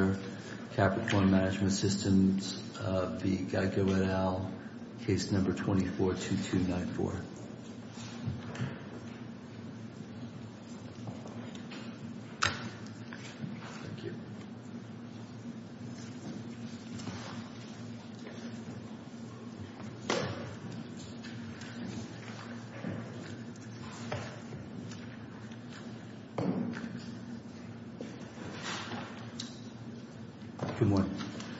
v. Geico et al., Case No. 24-2294. Good morning.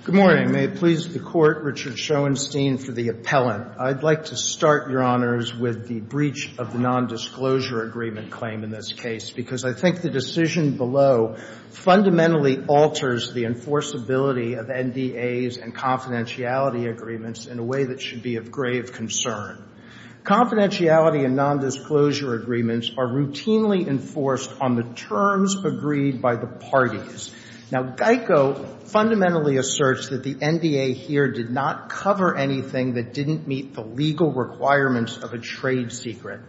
Good morning. May it please the Court, Richard Schoenstein for the appellant. I'd like to start, Your Honors, with the breach of the nondisclosure agreement claim in this case, because I think the decision below fundamentally alters the enforceability of NDAs and confidentiality agreements in a way that should be of grave concern. Confidentiality and nondisclosure agreements are routinely enforced on the terms agreed by the parties. Now, Geico fundamentally asserts that the NDA here did not cover anything that didn't meet the legal requirements of a trade secret.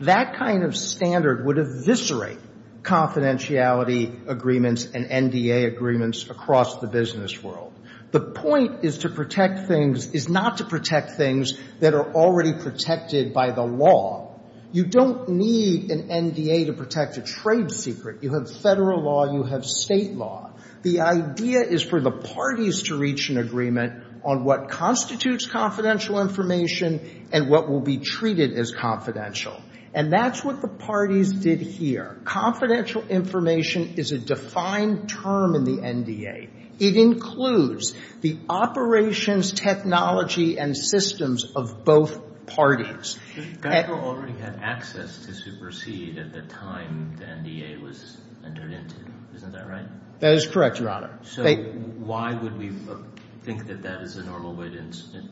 That kind of standard would eviscerate confidentiality agreements and NDA agreements across the business world. The point is to protect things, is not to protect things that are already protected by the law. You don't need an NDA to protect a trade secret. You have Federal law. You have State law. The idea is for the parties to reach an agreement on what constitutes confidential information and what will be treated as confidential. And that's what the parties did here. Confidential information is a defined term in the NDA. It includes the operations, technology, and systems of both parties. Geico already had access to Superseed at the time the NDA was entered into. Isn't that right? That is correct, Your Honor. So why would we think that that is the normal way to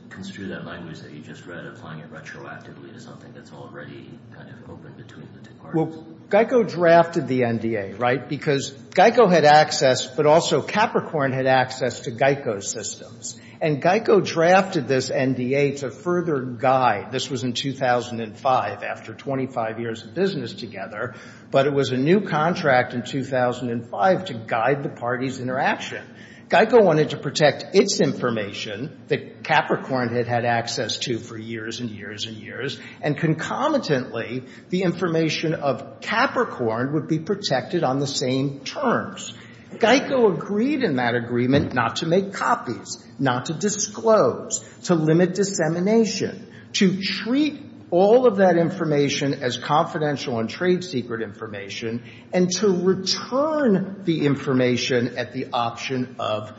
construe that language that you just read, applying it retroactively to something that's already kind of open between the two parties? Well, Geico drafted the NDA, right, because Geico had access, but also Capricorn had access to Geico's systems. And Geico drafted this NDA to further guide. This was in 2005, after 25 years of business together. But it was a new contract in 2005 to guide the parties' interaction. Geico wanted to protect its information that Capricorn had had access to for years and years and years. And concomitantly, the information of Capricorn would be protected on the same terms. Geico agreed in that agreement not to make copies, not to disclose, to limit dissemination, to treat all of that information as confidential and trade secret information, and to return the information at the option of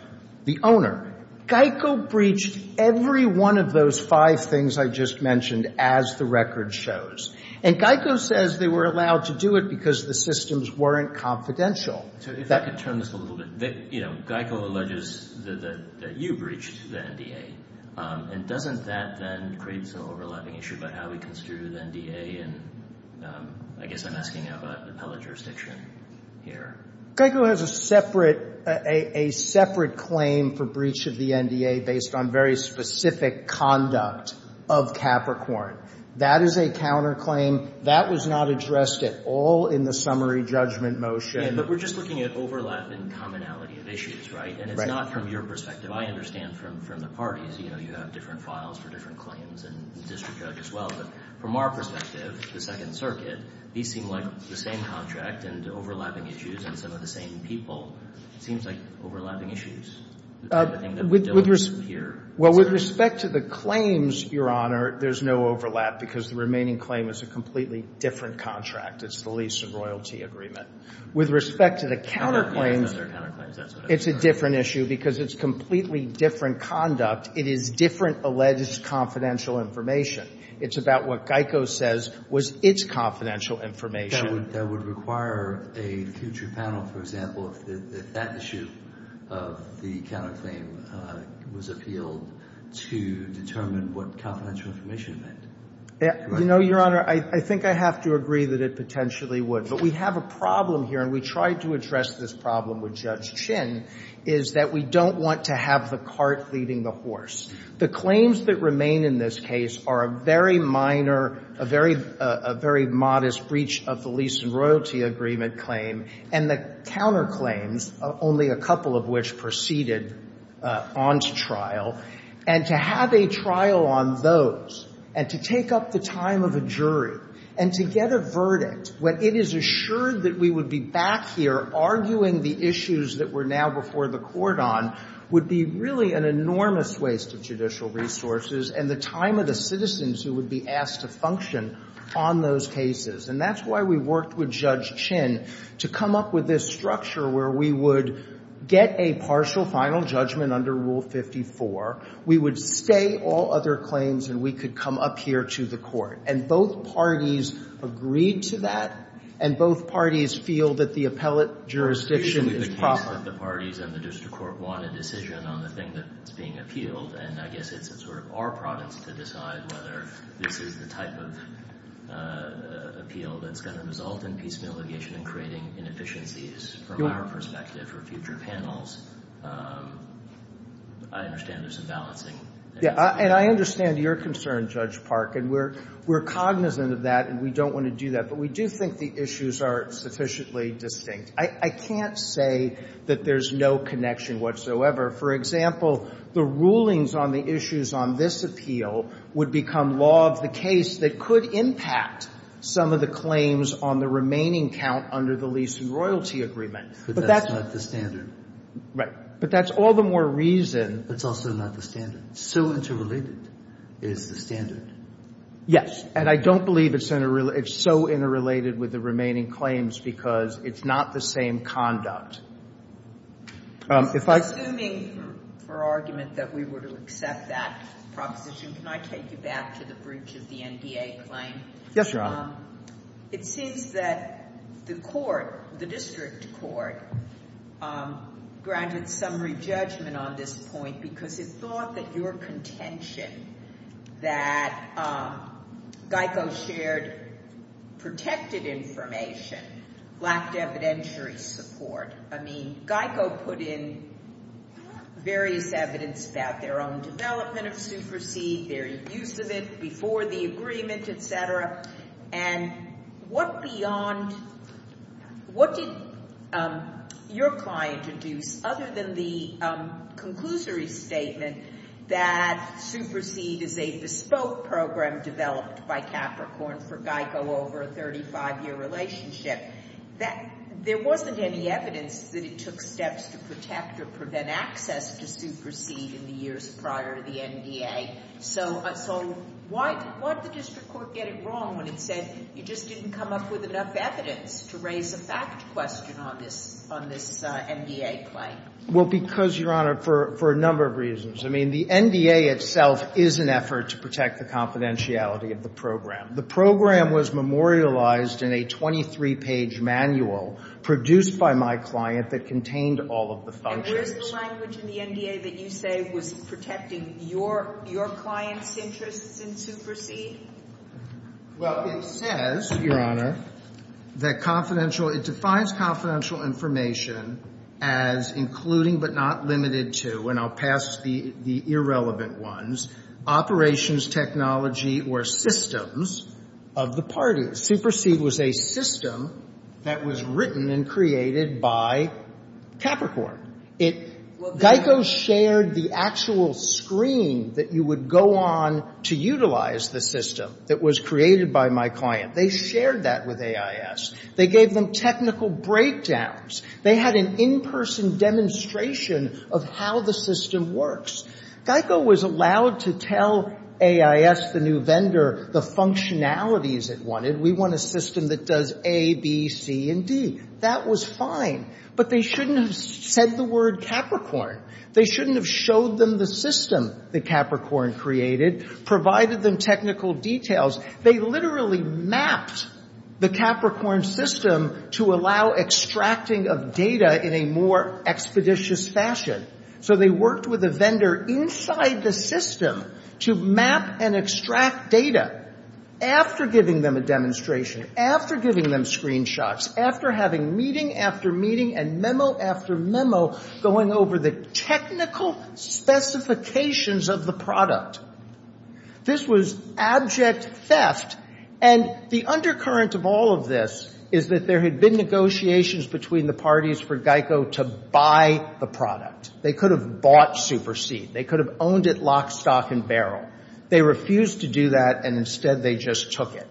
the owner. Geico breached every one of those five things I just mentioned, as the record shows. And Geico says they were allowed to do it because the systems weren't confidential. So if I could turn this a little bit. You know, Geico alleges that you breached the NDA. And doesn't that then create some overlapping issue about how we construe the NDA? And I guess I'm asking about the pellet jurisdiction here. Geico has a separate claim for breach of the NDA based on very specific conduct of Capricorn. That is a counterclaim. That was not addressed at all in the summary judgment motion. But we're just looking at overlap and commonality of issues, right? And it's not from your perspective. I understand from the parties, you know, you have different files for different claims and district judge as well. But from our perspective, the Second Circuit, these seem like the same contract and overlapping issues, and some of the same people. It seems like overlapping issues. With respect to the claims, Your Honor, there's no overlap because the remaining claim is a completely different contract. It's the lease of royalty agreement. With respect to the counterclaims, it's a different issue because it's completely different conduct. It is different alleged confidential information. It's about what Geico says was its confidential information. That would require a future panel, for example, if that issue of the counterclaim was appealed to determine what confidential information meant. You know, Your Honor, I think I have to agree that it potentially would. But we have a problem here, and we tried to address this problem with Judge Chinn, is that we don't want to have the cart leading the horse. The claims that remain in this case are a very minor, a very modest breach of the lease and royalty agreement claim, and the counterclaims, only a couple of which proceeded on to trial. And to have a trial on those and to take up the time of a jury and to get a verdict when it is assured that we would be back here arguing the issues that we're now before the court on would be really an enormous waste of judicial resources and the time of the citizens who would be asked to function on those cases. And that's why we worked with Judge Chinn to come up with this structure where we would get a partial final judgment under Rule 54, we would stay all other claims, and we could come up here to the court. And both parties agreed to that, and both parties feel that the appellate jurisdiction is proper. Usually the parties and the district court want a decision on the thing that's being appealed, and I guess it's sort of our province to decide whether this is the type of appeal that's going to result in piecemeal litigation and creating inefficiencies from our perspective for future panels. I understand there's some balancing. Yeah. And I understand your concern, Judge Park, and we're cognizant of that and we don't want to do that, but we do think the issues are sufficiently distinct. I can't say that there's no connection whatsoever. For example, the rulings on the issues on this appeal would become law of the case that could impact some of the claims on the remaining count under the lease and royalty agreement. But that's not the standard. Right. But that's all the more reason. It's also not the standard. So interrelated is the standard. And I don't believe it's so interrelated with the remaining claims because it's not the same conduct. If I say the argument that we were to accept that proposition, can I take you back to the breach of the NDA claim? Yes, Your Honor. It seems that the court, the district court, granted some re-judgment on this point because it thought that your contention that GEICO shared protected information lacked evidentiary support. I mean, GEICO put in various evidence about their own development of Superseed, their use of it before the agreement, et cetera. And what did your client deduce other than the conclusory statement that Superseed is a bespoke program developed by Capricorn for GEICO over a 35-year relationship? There wasn't any evidence that it took steps to protect or prevent access to Superseed in the years prior to the NDA. So why did the district court get it wrong when it said you just didn't come up with enough evidence to raise a fact question on this NDA claim? Well, because, Your Honor, for a number of reasons. I mean, the NDA itself is an effort to protect the confidentiality of the program. The program was memorialized in a 23-page manual produced by my client that contained all of the functions. So is the language in the NDA that you say was protecting your client's interests in Superseed? Well, it says, Your Honor, that confidential – it defines confidential information as including but not limited to – and I'll pass the irrelevant ones – operations, technology, or systems of the parties. Superseed was a system that was written and created by Capricorn. GEICO shared the actual screen that you would go on to utilize the system that was created by my client. They shared that with AIS. They gave them technical breakdowns. They had an in-person demonstration of how the system works. GEICO was allowed to tell AIS, the new vendor, the functionalities it wanted. We want a system that does A, B, C, and D. That was fine. But they shouldn't have said the word Capricorn. They shouldn't have showed them the system that Capricorn created, provided them technical details. They literally mapped the Capricorn system to allow extracting of data in a more expeditious fashion. So they worked with a vendor inside the system to map and extract data. After giving them a demonstration, after giving them screenshots, after having meeting after meeting and memo after memo going over the technical specifications of the product. This was abject theft. And the undercurrent of all of this is that there had been negotiations between the parties for GEICO to buy the product. They could have bought Superseed. They could have owned it lock, stock, and barrel. They refused to do that, and instead they just took it.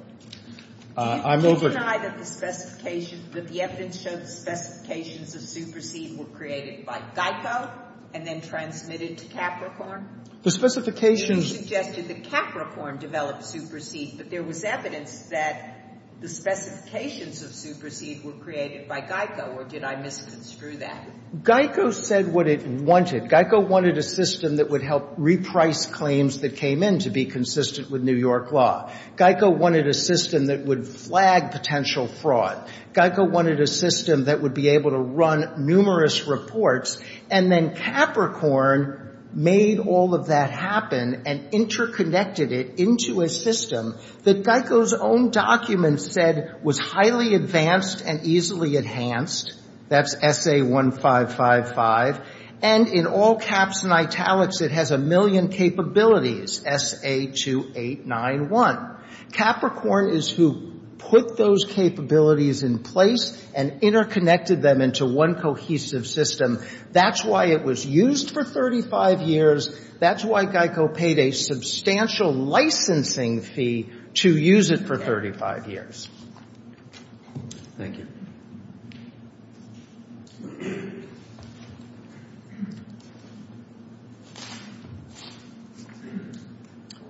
I'm over. Do you deny that the specification, that the evidence showed the specifications of Superseed were created by GEICO and then transmitted to Capricorn? The specifications. You suggested that Capricorn developed Superseed, but there was evidence that the specifications of Superseed were created by GEICO, or did I misconstrue that? GEICO said what it wanted. GEICO wanted a system that would help reprice claims that came in to be consistent with New York law. GEICO wanted a system that would flag potential fraud. GEICO wanted a system that would be able to run numerous reports. And then Capricorn made all of that happen and interconnected it into a system that GEICO's own documents said was highly advanced and easily enhanced. That's SA1555. And in all caps and italics, it has a million capabilities, SA2891. Capricorn is who put those capabilities in place and interconnected them into one cohesive system. That's why it was used for 35 years. That's why GEICO paid a substantial licensing fee to use it for 35 years. Thank you.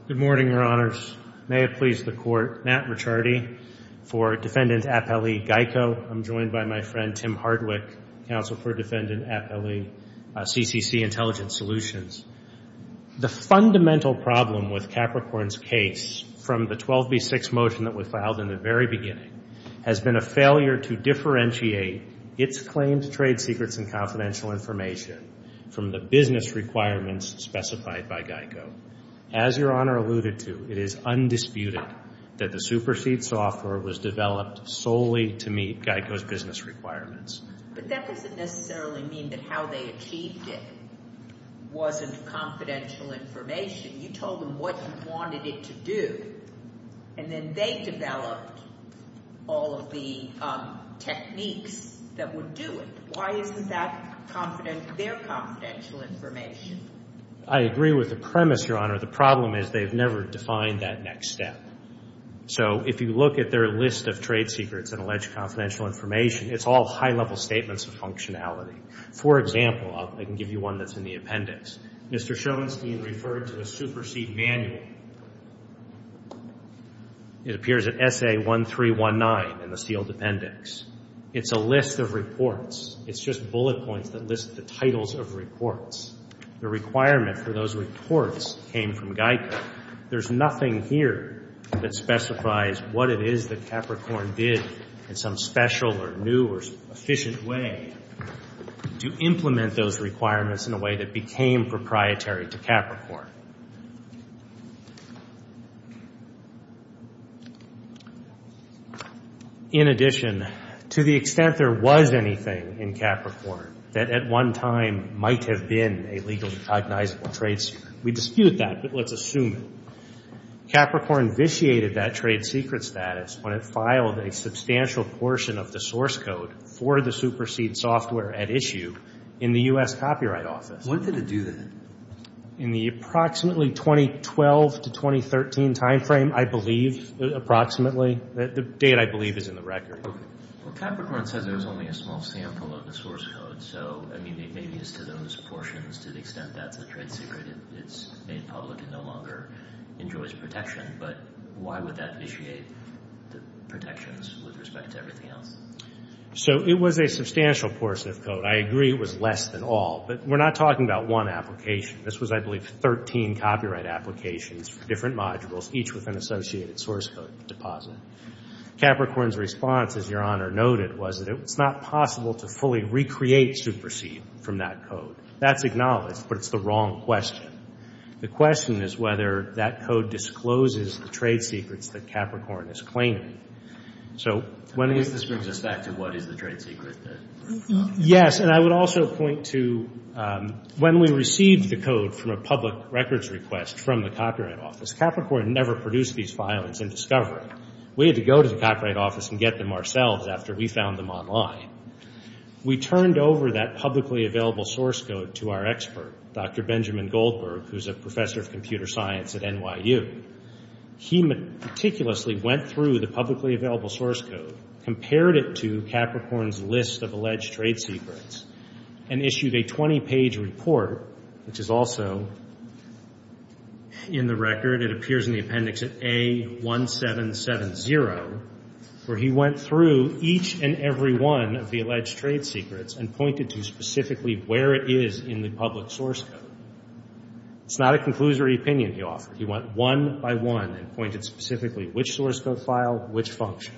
Good morning, Your Honors. May it please the Court. Matt Ricciardi for Defendant Appellee GEICO. I'm joined by my friend Tim Hardwick, Counsel for Defendant Appellee, CCC Intelligence Solutions. The fundamental problem with Capricorn's case from the 12B6 motion that was in the very beginning has been a failure to differentiate its claims, trade secrets, and confidential information from the business requirements specified by GEICO. As Your Honor alluded to, it is undisputed that the supersede software was developed solely to meet GEICO's business requirements. But that doesn't necessarily mean that how they achieved it wasn't confidential information. You told them what you wanted it to do, and then they developed all of the techniques that would do it. Why isn't that their confidential information? I agree with the premise, Your Honor. The problem is they've never defined that next step. So if you look at their list of trade secrets and alleged confidential information, it's all high-level statements of functionality. For example, I can give you one that's in the appendix. Mr. Schoenstein referred to a supersede manual. It appears at SA1319 in the sealed appendix. It's a list of reports. It's just bullet points that list the titles of reports. The requirement for those reports came from GEICO. There's nothing here that specifies what it is that Capricorn did in some special or new or efficient way to implement those requirements in a way that became proprietary to Capricorn. In addition, to the extent there was anything in Capricorn that at one time might have been a legally cognizable trade secret, we dispute that, but let's assume it. Capricorn vitiated that trade secret status when it filed a substantial portion of the source code for the supersede software at issue in the U.S. Copyright Office. When did it do that? In the approximately 2012 to 2013 time frame, I believe, approximately. The date, I believe, is in the record. Well, Capricorn says there was only a small sample of the source code. So, I mean, maybe it's to those portions, to the extent that's a trade secret, it's made public and no longer enjoys protection. But why would that vitiate the protections with respect to everything else? So it was a substantial portion of code. I agree it was less than all. But we're not talking about one application. This was, I believe, 13 copyright applications for different modules, each with an associated source code deposit. Capricorn's response, as Your Honor noted, was that it's not possible to fully recreate supersede from that code. That's acknowledged, but it's the wrong question. The question is whether that code discloses the trade secrets that Capricorn is claiming. So when it is. At least this brings us back to what is the trade secret. Yes, and I would also point to when we received the code from a public records request from the Copyright Office, Capricorn never produced these files. It's in discovery. We had to go to the Copyright Office and get them ourselves after we found them online. We turned over that publicly available source code to our expert, Dr. Benjamin Goldberg, who's a professor of computer science at NYU. He meticulously went through the publicly available source code, compared it to Capricorn's list of alleged trade secrets, and issued a 20-page report, which is also in the record. It appears in the appendix at A1770, where he went through each and every one of the alleged trade secrets and pointed to specifically where it is in the public source code. It's not a conclusory opinion he offered. He went one by one and pointed specifically which source code file, which function.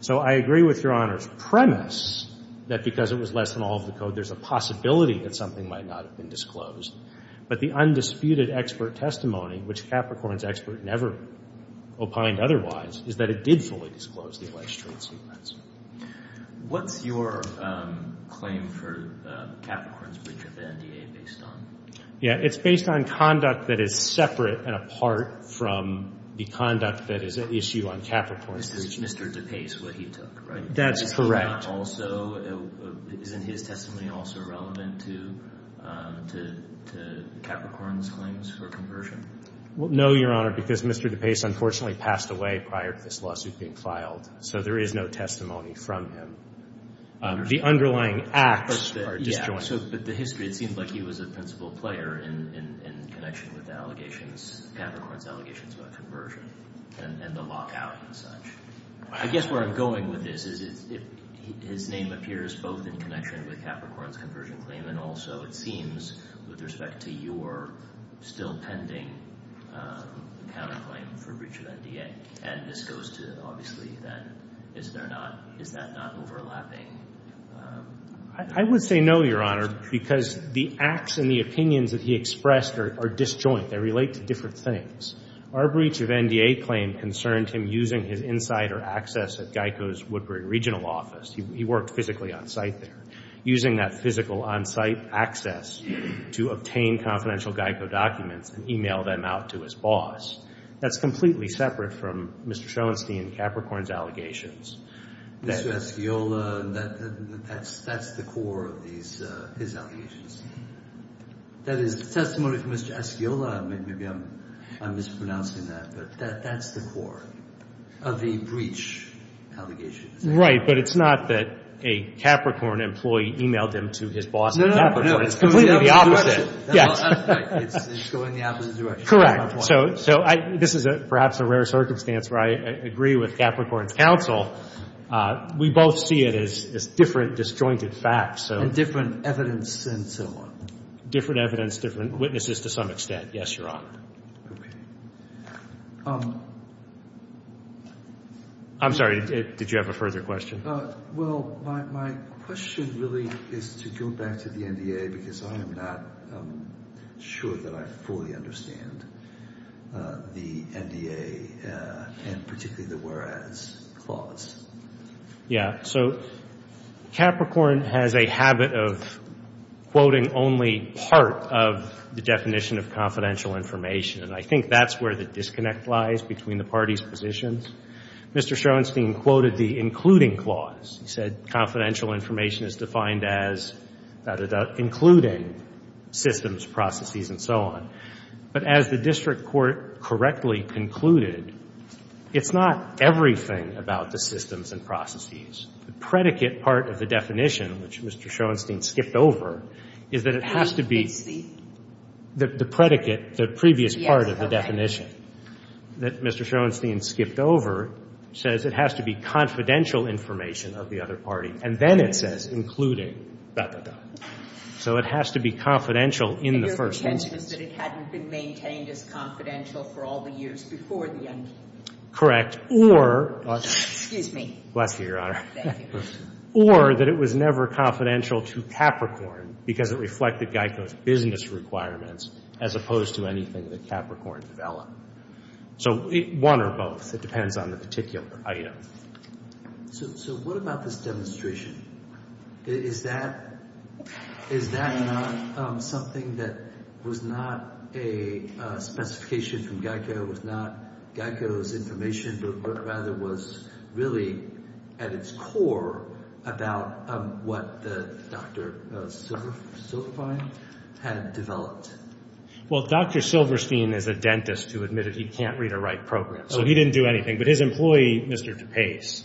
So I agree with Your Honor's premise that because it was less than all of the code, there's a possibility that something might not have been disclosed. But the undisputed expert testimony, which Capricorn's expert never opined otherwise, is that it did fully disclose the alleged trade secrets. What's your claim for Capricorn's breach of the NDA based on? It's based on conduct that is separate and apart from the conduct that is at issue on Capricorn's breach. This is Mr. DePace, what he took, right? That's correct. Isn't his testimony also relevant to Capricorn's claims for conversion? No, Your Honor, because Mr. DePace unfortunately passed away prior to this lawsuit being filed. So there is no testimony from him. The underlying acts are disjointed. But the history, it seems like he was a principal player in connection with the allegations, Capricorn's allegations about conversion and the lockout and such. I guess where I'm going with this is his name appears both in connection with Capricorn's conversion claim and also, it seems, with respect to your still pending counterclaim for breach of NDA. And this goes to, obviously, then, is that not overlapping? I would say no, Your Honor, because the acts and the opinions that he expressed are disjoint. They relate to different things. Our breach of NDA claim concerned him using his insider access at GEICO's Woodbury regional office. He worked physically on site there. Using that physical on-site access to obtain confidential GEICO documents and e-mail them out to his boss. That's completely separate from Mr. Schoenstein and Capricorn's allegations. Mr. Asciola, that's the core of his allegations. That is testimony from Mr. Asciola. Maybe I'm mispronouncing that, but that's the core of the breach allegations. Right, but it's not that a Capricorn employee e-mailed him to his boss at Capricorn. It's completely the opposite. It's going the opposite direction. Correct. So this is perhaps a rare circumstance where I agree with Capricorn's counsel. We both see it as different disjointed facts. And different evidence and so on. Different evidence, different witnesses to some extent. Yes, Your Honor. Okay. I'm sorry, did you have a further question? Well, my question really is to go back to the NDA because I am not sure that I fully understand the NDA and particularly the whereas clause. Yeah, so Capricorn has a habit of quoting only part of the definition of confidential information. And I think that's where the disconnect lies between the parties' positions. Mr. Shorenstein quoted the including clause. He said confidential information is defined as including systems, processes, and so on. But as the district court correctly concluded, it's not everything about the systems and processes. The predicate part of the definition, which Mr. Shorenstein skipped over, is that it has to be the predicate, the previous part of the definition that Mr. Shorenstein skipped over, says it has to be confidential information of the other party. And then it says including, da, da, da. So it has to be confidential in the first instance. And your contention is that it hadn't been maintained as confidential for all the years before the NDA? Correct. Or. Excuse me. Bless you, Your Honor. Thank you. Or that it was never confidential to Capricorn because it reflected GEICO's business requirements as opposed to anything that Capricorn developed. So one or both. It depends on the particular item. So what about this demonstration? Is that not something that was not a specification from GEICO, was not GEICO's information, but rather was really at its core about what Dr. Silverstein had developed? Well, Dr. Silverstein is a dentist who admitted he can't read or write programs. So he didn't do anything. But his employee, Mr. DePace.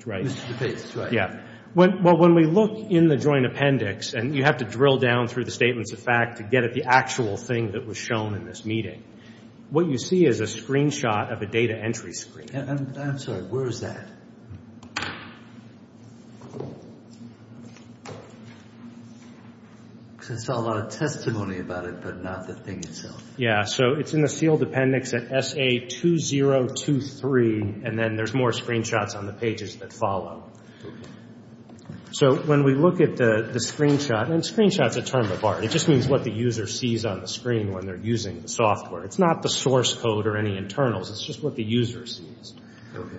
Mr. DePace, right. Yeah. Well, when we look in the joint appendix, and you have to drill down through the statements of fact to get at the actual thing that was shown in this meeting, what you see is a screenshot of a data entry screen. I'm sorry. Where is that? Because I saw a lot of testimony about it, but not the thing itself. Yeah. So it's in the sealed appendix at SA2023. And then there's more screenshots on the pages that follow. So when we look at the screenshot, and screenshot's a term of art. It just means what the user sees on the screen when they're using the software. It's not the source code or any internals. It's just what the user sees. Okay.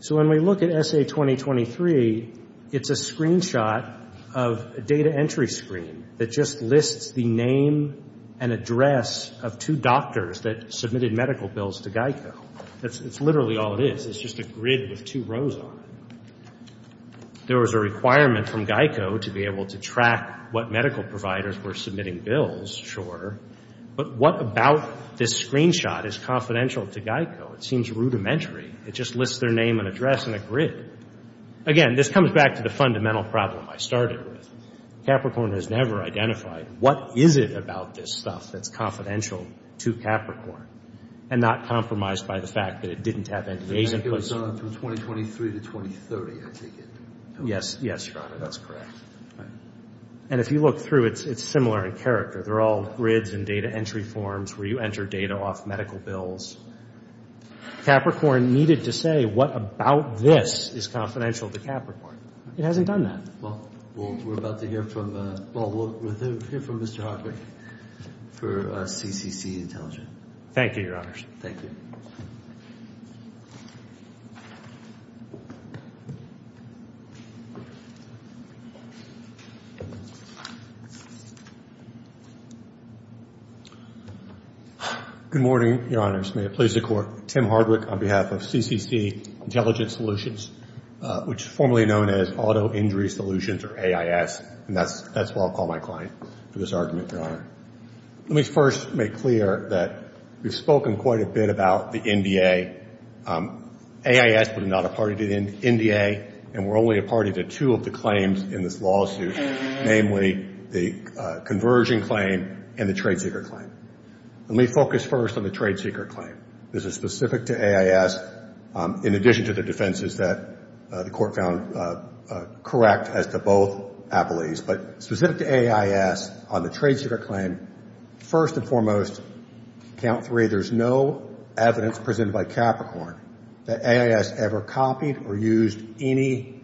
So when we look at SA2023, it's a screenshot of a data entry screen that just lists the name and address of two doctors that submitted medical bills to GEICO. That's literally all it is. It's just a grid with two rows on it. There was a requirement from GEICO to be able to track what medical providers were submitting bills. Sure. But what about this screenshot is confidential to GEICO? It seems rudimentary. It just lists their name and address in a grid. Again, this comes back to the fundamental problem I started with. Capricorn has never identified what is it about this stuff that's confidential to Capricorn and not compromised by the fact that it didn't have any agent. I think it was from 2023 to 2030, I take it. Yes, yes. That's correct. And if you look through it, it's similar in character. They're all grids and data entry forms where you enter data off medical bills. Capricorn needed to say what about this is confidential to Capricorn. It hasn't done that. Well, we're about to hear from Mr. Hartwig for CCC Intelligence. Thank you, Your Honors. Thank you. Good morning, Your Honors. May it please the Court. Tim Hartwig on behalf of CCC Intelligence Solutions, which is formerly known as Auto Injury Solutions or AIS, and that's what I'll call my client for this argument, Your Honor. Let me first make clear that we've spoken quite a bit about the NDA. AIS was not a party to the NDA, and we're only a party to two of the claims in this lawsuit, namely the conversion claim and the trade-seeker claim. Let me focus first on the trade-seeker claim. This is specific to AIS in addition to the defenses that the Court found correct as to both appellees. But specific to AIS on the trade-seeker claim, first and foremost, count three, there's no evidence presented by Capricorn that AIS ever copied or used any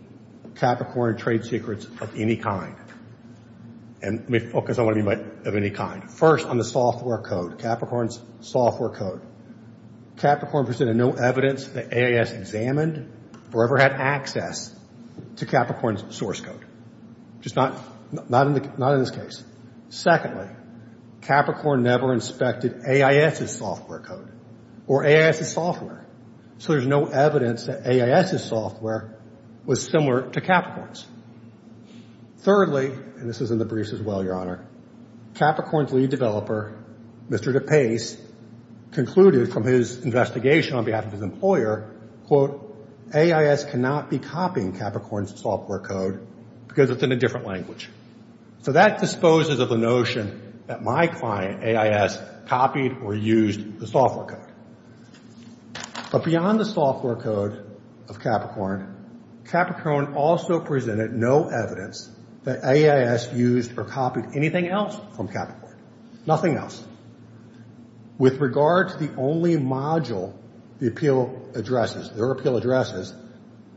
Capricorn trade secrets of any kind. And let me focus on what I mean by of any kind. First, on the software code, Capricorn's software code. Capricorn presented no evidence that AIS examined or ever had access to Capricorn's source code. Just not in this case. Secondly, Capricorn never inspected AIS's software code or AIS's software. So there's no evidence that AIS's software was similar to Capricorn's. Thirdly, and this is in the briefs as well, Your Honor, Capricorn's lead developer, Mr. DePace, concluded from his investigation on behalf of his employer, AIS cannot be copying Capricorn's software code because it's in a different language. So that disposes of the notion that my client, AIS, copied or used the software code. But beyond the software code of Capricorn, Capricorn also presented no evidence that AIS used or copied anything else from Capricorn. Nothing else. With regard to the only module the appeal addresses, their appeal addresses,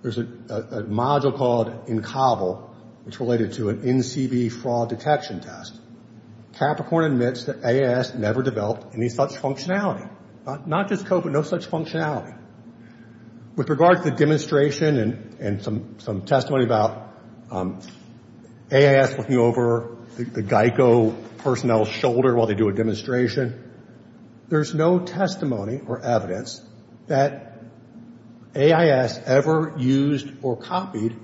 there's a module called INCOBLE, which related to an NCB fraud detection test. Capricorn admits that AIS never developed any such functionality. Not just code, but no such functionality. With regard to the demonstration and some testimony about AIS looking over the GEICO personnel's shoulder while they do a demonstration, there's no testimony or evidence that AIS ever used or copied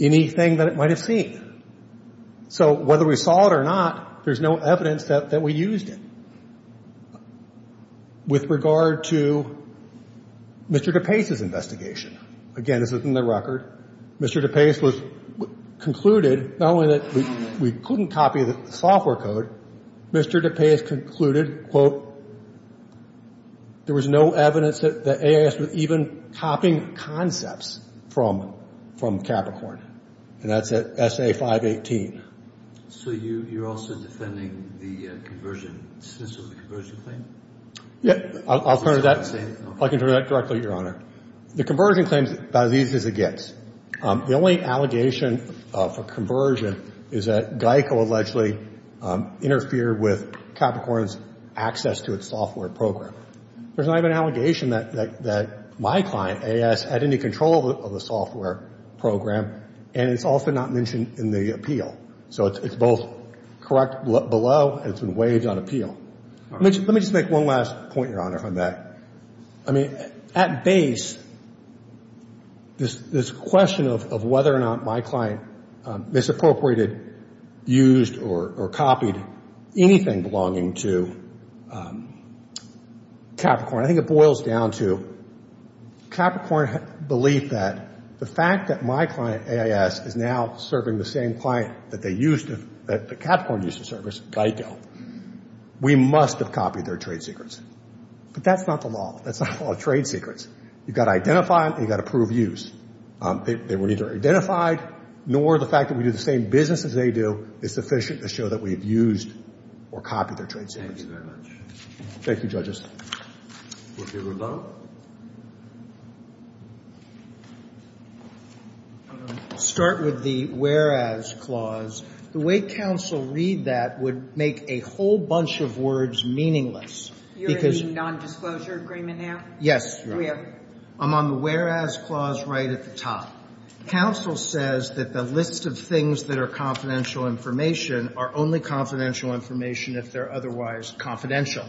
anything that it might have seen. So whether we saw it or not, there's no evidence that we used it. With regard to Mr. DePace's investigation, again, this is in the record, Mr. DePace was concluded not only that we couldn't copy the software code, Mr. DePace concluded, quote, there was no evidence that AIS was even copying concepts from Capricorn. And that's at SA 518. So you're also defending the conversion, the dismissal of the conversion claim? Yeah. I'll turn to that. I can turn to that directly, Your Honor. The conversion claim is about as easy as it gets. The only allegation of a conversion is that GEICO allegedly interfered with Capricorn's access to its software program. There's not even an allegation that my client, AIS, had any control of the software program, and it's also not mentioned in the appeal. So it's both correct below and it's been waived on appeal. Let me just make one last point, Your Honor, on that. I mean, at base, this question of whether or not my client misappropriated, used, or copied anything belonging to Capricorn, I think it boils down to Capricorn believed that the fact that my client, AIS, is now serving the same client that Capricorn used to service, GEICO, we must have copied their trade secrets. But that's not the law. That's not the law of trade secrets. You've got to identify them and you've got to prove use. They were neither identified nor the fact that we do the same business as they do is sufficient to show that we've used or copied their trade secrets. Thank you very much. Thank you, Judges. We'll hear the vote. I'll start with the whereas clause. The way counsel read that would make a whole bunch of words meaningless. You're in the nondisclosure agreement now? Yes, Your Honor. I'm on the whereas clause right at the top. Counsel says that the list of things that are confidential information are only confidential information if they're otherwise confidential.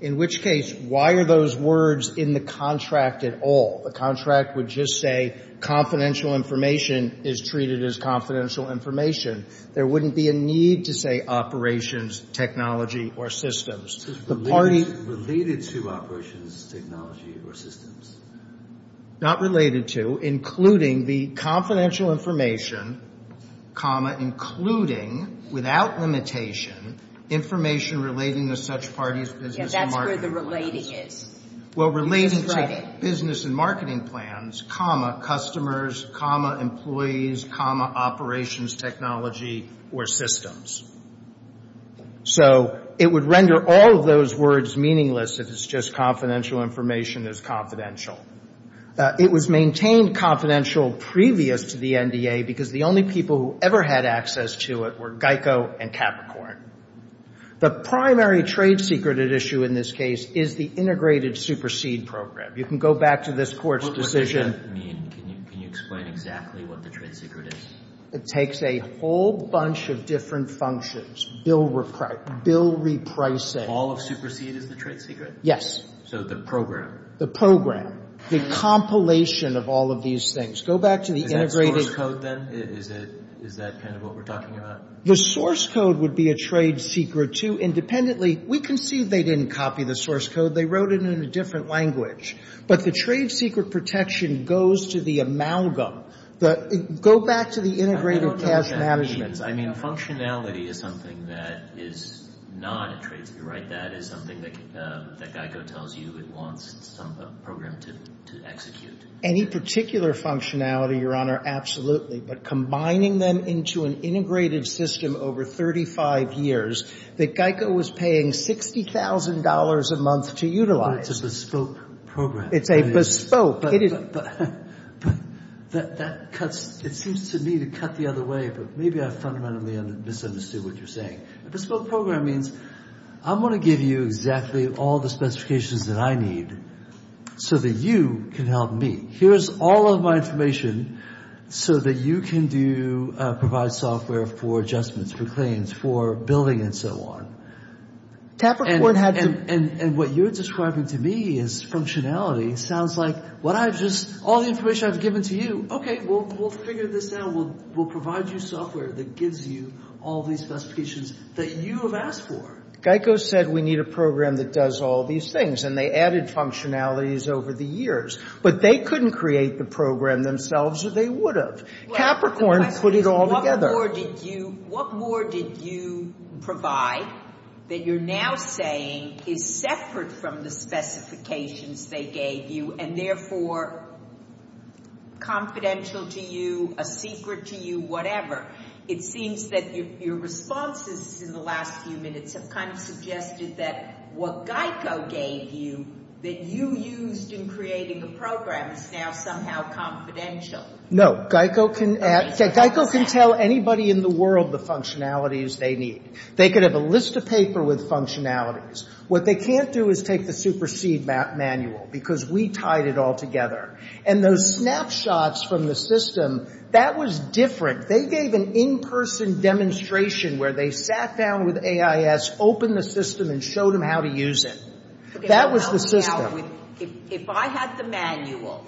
In which case, why are those words in the contract at all? The contract would just say confidential information is treated as confidential information. There wouldn't be a need to say operations, technology, or systems. Related to operations, technology, or systems? Not related to. Including the confidential information, comma, including, without limitation, information relating to such parties, business, and marketing. Yeah, that's where the relating is. Well, relating to business and marketing plans, comma, customers, comma, employees, comma, operations, technology, or systems. So it would render all of those words meaningless if it's just confidential information is confidential. It was maintained confidential previous to the NDA because the only people who ever had access to it were GEICO and Capricorn. The primary trade secret at issue in this case is the integrated supersede program. You can go back to this Court's decision. What does that mean? Can you explain exactly what the trade secret is? It takes a whole bunch of different functions. Bill repricing. All of supersede is the trade secret? Yes. So the program. The program. The compilation of all of these things. Go back to the integrated. Is that source code, then? Is that kind of what we're talking about? The source code would be a trade secret, too. Independently, we can see they didn't copy the source code. They wrote it in a different language. But the trade secret protection goes to the amalgam. Go back to the integrated cash management. I mean, functionality is something that is not a trade secret, right? That is something that GEICO tells you it wants some program to execute. Any particular functionality, Your Honor, absolutely. But combining them into an integrated system over 35 years that GEICO was paying $60,000 a month to utilize. It's a bespoke program. It's a bespoke. It seems to me to cut the other way, but maybe I fundamentally misunderstood what you're saying. Bespoke program means I'm going to give you exactly all the specifications that I need so that you can help me. Here's all of my information so that you can provide software for adjustments, for claims, for billing and so on. And what you're describing to me is functionality. It sounds like what I've just, all the information I've given to you, okay, we'll figure this out. We'll provide you software that gives you all these specifications that you have asked for. GEICO said we need a program that does all these things, and they added functionalities over the years. But they couldn't create the program themselves, or they would have. Capricorn put it all together. What more did you provide that you're now saying is separate from the specifications they gave you and therefore confidential to you, a secret to you, whatever? It seems that your responses in the last few minutes have kind of suggested that what GEICO gave you, that you used in creating the program, is now somehow confidential. No. GEICO can tell anybody in the world the functionalities they need. They could have a list of paper with functionalities. What they can't do is take the supersede manual because we tied it all together. And those snapshots from the system, that was different. They gave an in-person demonstration where they sat down with AIS, opened the system, and showed them how to use it. That was the system. If I had the manual,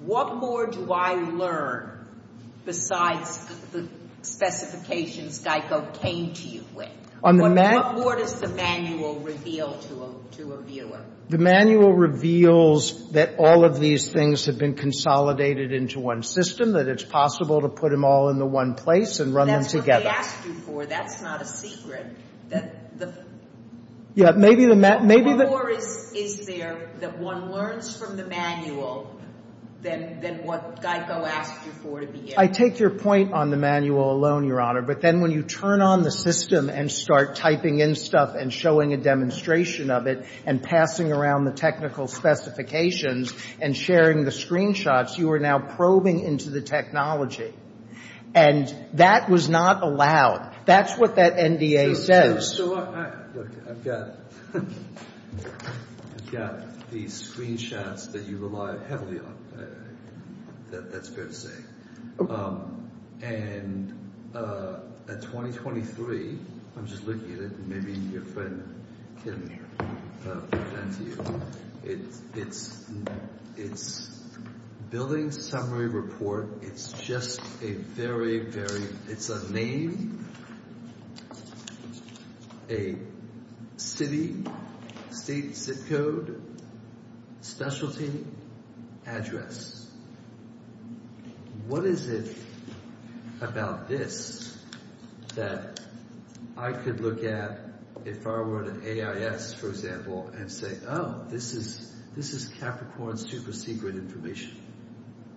what more do I learn besides the specifications GEICO came to you with? What more does the manual reveal to a viewer? The manual reveals that all of these things have been consolidated into one system, that it's possible to put them all into one place and run them together. That's what they asked you for. That's not a secret. What more is there that one learns from the manual than what GEICO asked you for to begin with? I take your point on the manual alone, Your Honor. But then when you turn on the system and start typing in stuff and showing a demonstration of it and passing around the technical specifications and sharing the screenshots, you are now probing into the technology. And that was not allowed. That's what that NDA says. Look, I've got these screenshots that you rely heavily on. That's fair to say. And at 2023, I'm just looking at it. Maybe your friend can present to you. It's a billing summary report. It's a name, a city, state zip code, specialty, address. What is it about this that I could look at if I were at an AIS, for example, and say, oh, this is Capricorn's super secret information?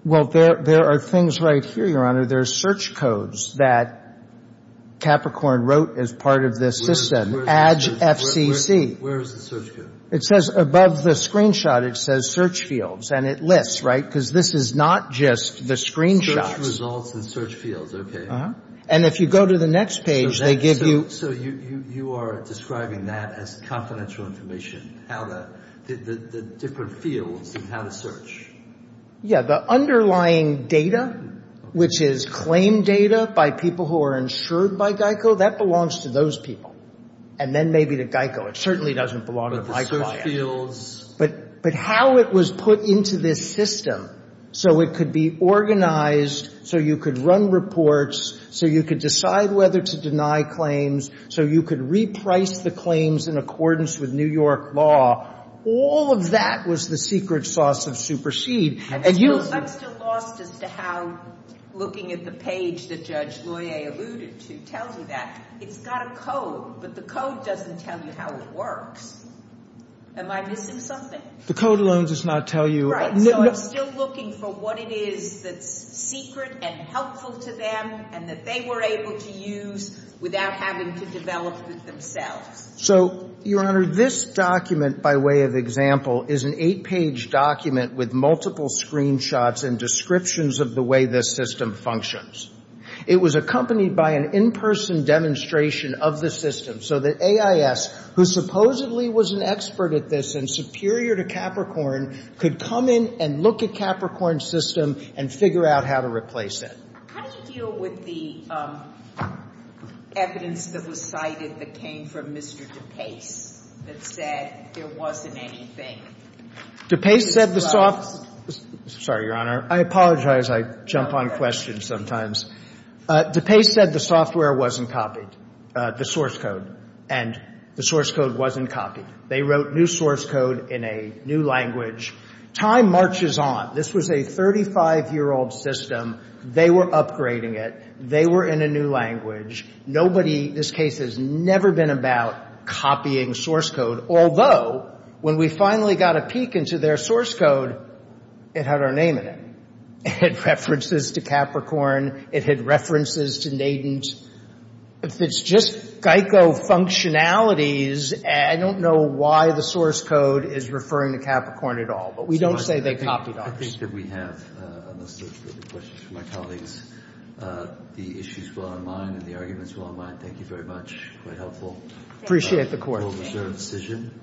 Well, there are things right here, Your Honor. There are search codes that Capricorn wrote as part of this system. Adge FCC. Where is the search code? It says above the screenshot, it says search fields. And it lists, right? Because this is not just the screenshots. Search results and search fields. Okay. And if you go to the next page, they give you. So you are describing that as confidential information, the different fields and how to search. Yeah. The underlying data, which is claim data by people who are insured by GEICO, that belongs to those people. And then maybe to GEICO. It certainly doesn't belong to my client. But the search fields. But how it was put into this system so it could be organized, so you could run reports, so you could decide whether to deny claims, so you could reprice the claims in accordance with New York law. All of that was the secret sauce of supersede. And you. I'm still lost as to how looking at the page that Judge Loyer alluded to tells you that. It's got a code. But the code doesn't tell you how it works. Am I missing something? The code alone does not tell you. Right. So I'm still looking for what it is that's secret and helpful to them and that they were able to use without having to develop it themselves. So, Your Honor, this document, by way of example, is an eight-page document with multiple screenshots and descriptions of the way this system functions. It was accompanied by an in-person demonstration of the system so that AIS, who supposedly was an expert at this and superior to Capricorn, could come in and look at Capricorn's system and figure out how to replace it. How did you deal with the evidence that was cited that came from Mr. DePace that said there wasn't anything? DePace said the software. Sorry, Your Honor. I apologize. I jump on questions sometimes. DePace said the software wasn't copied, the source code. And the source code wasn't copied. They wrote new source code in a new language. Time marches on. This was a 35-year-old system. They were upgrading it. They were in a new language. Nobody, this case has never been about copying source code, although when we finally got a peek into their source code, it had our name in it. It had references to Capricorn. It had references to Nadine's. If it's just Geico functionalities, I don't know why the source code is referring to Capricorn at all. But we don't say they copied ours. I think that we have a list of questions for my colleagues. The issues will unwind and the arguments will unwind. Thank you very much. Quite helpful. Appreciate the court. Thank you. Court is adjourned.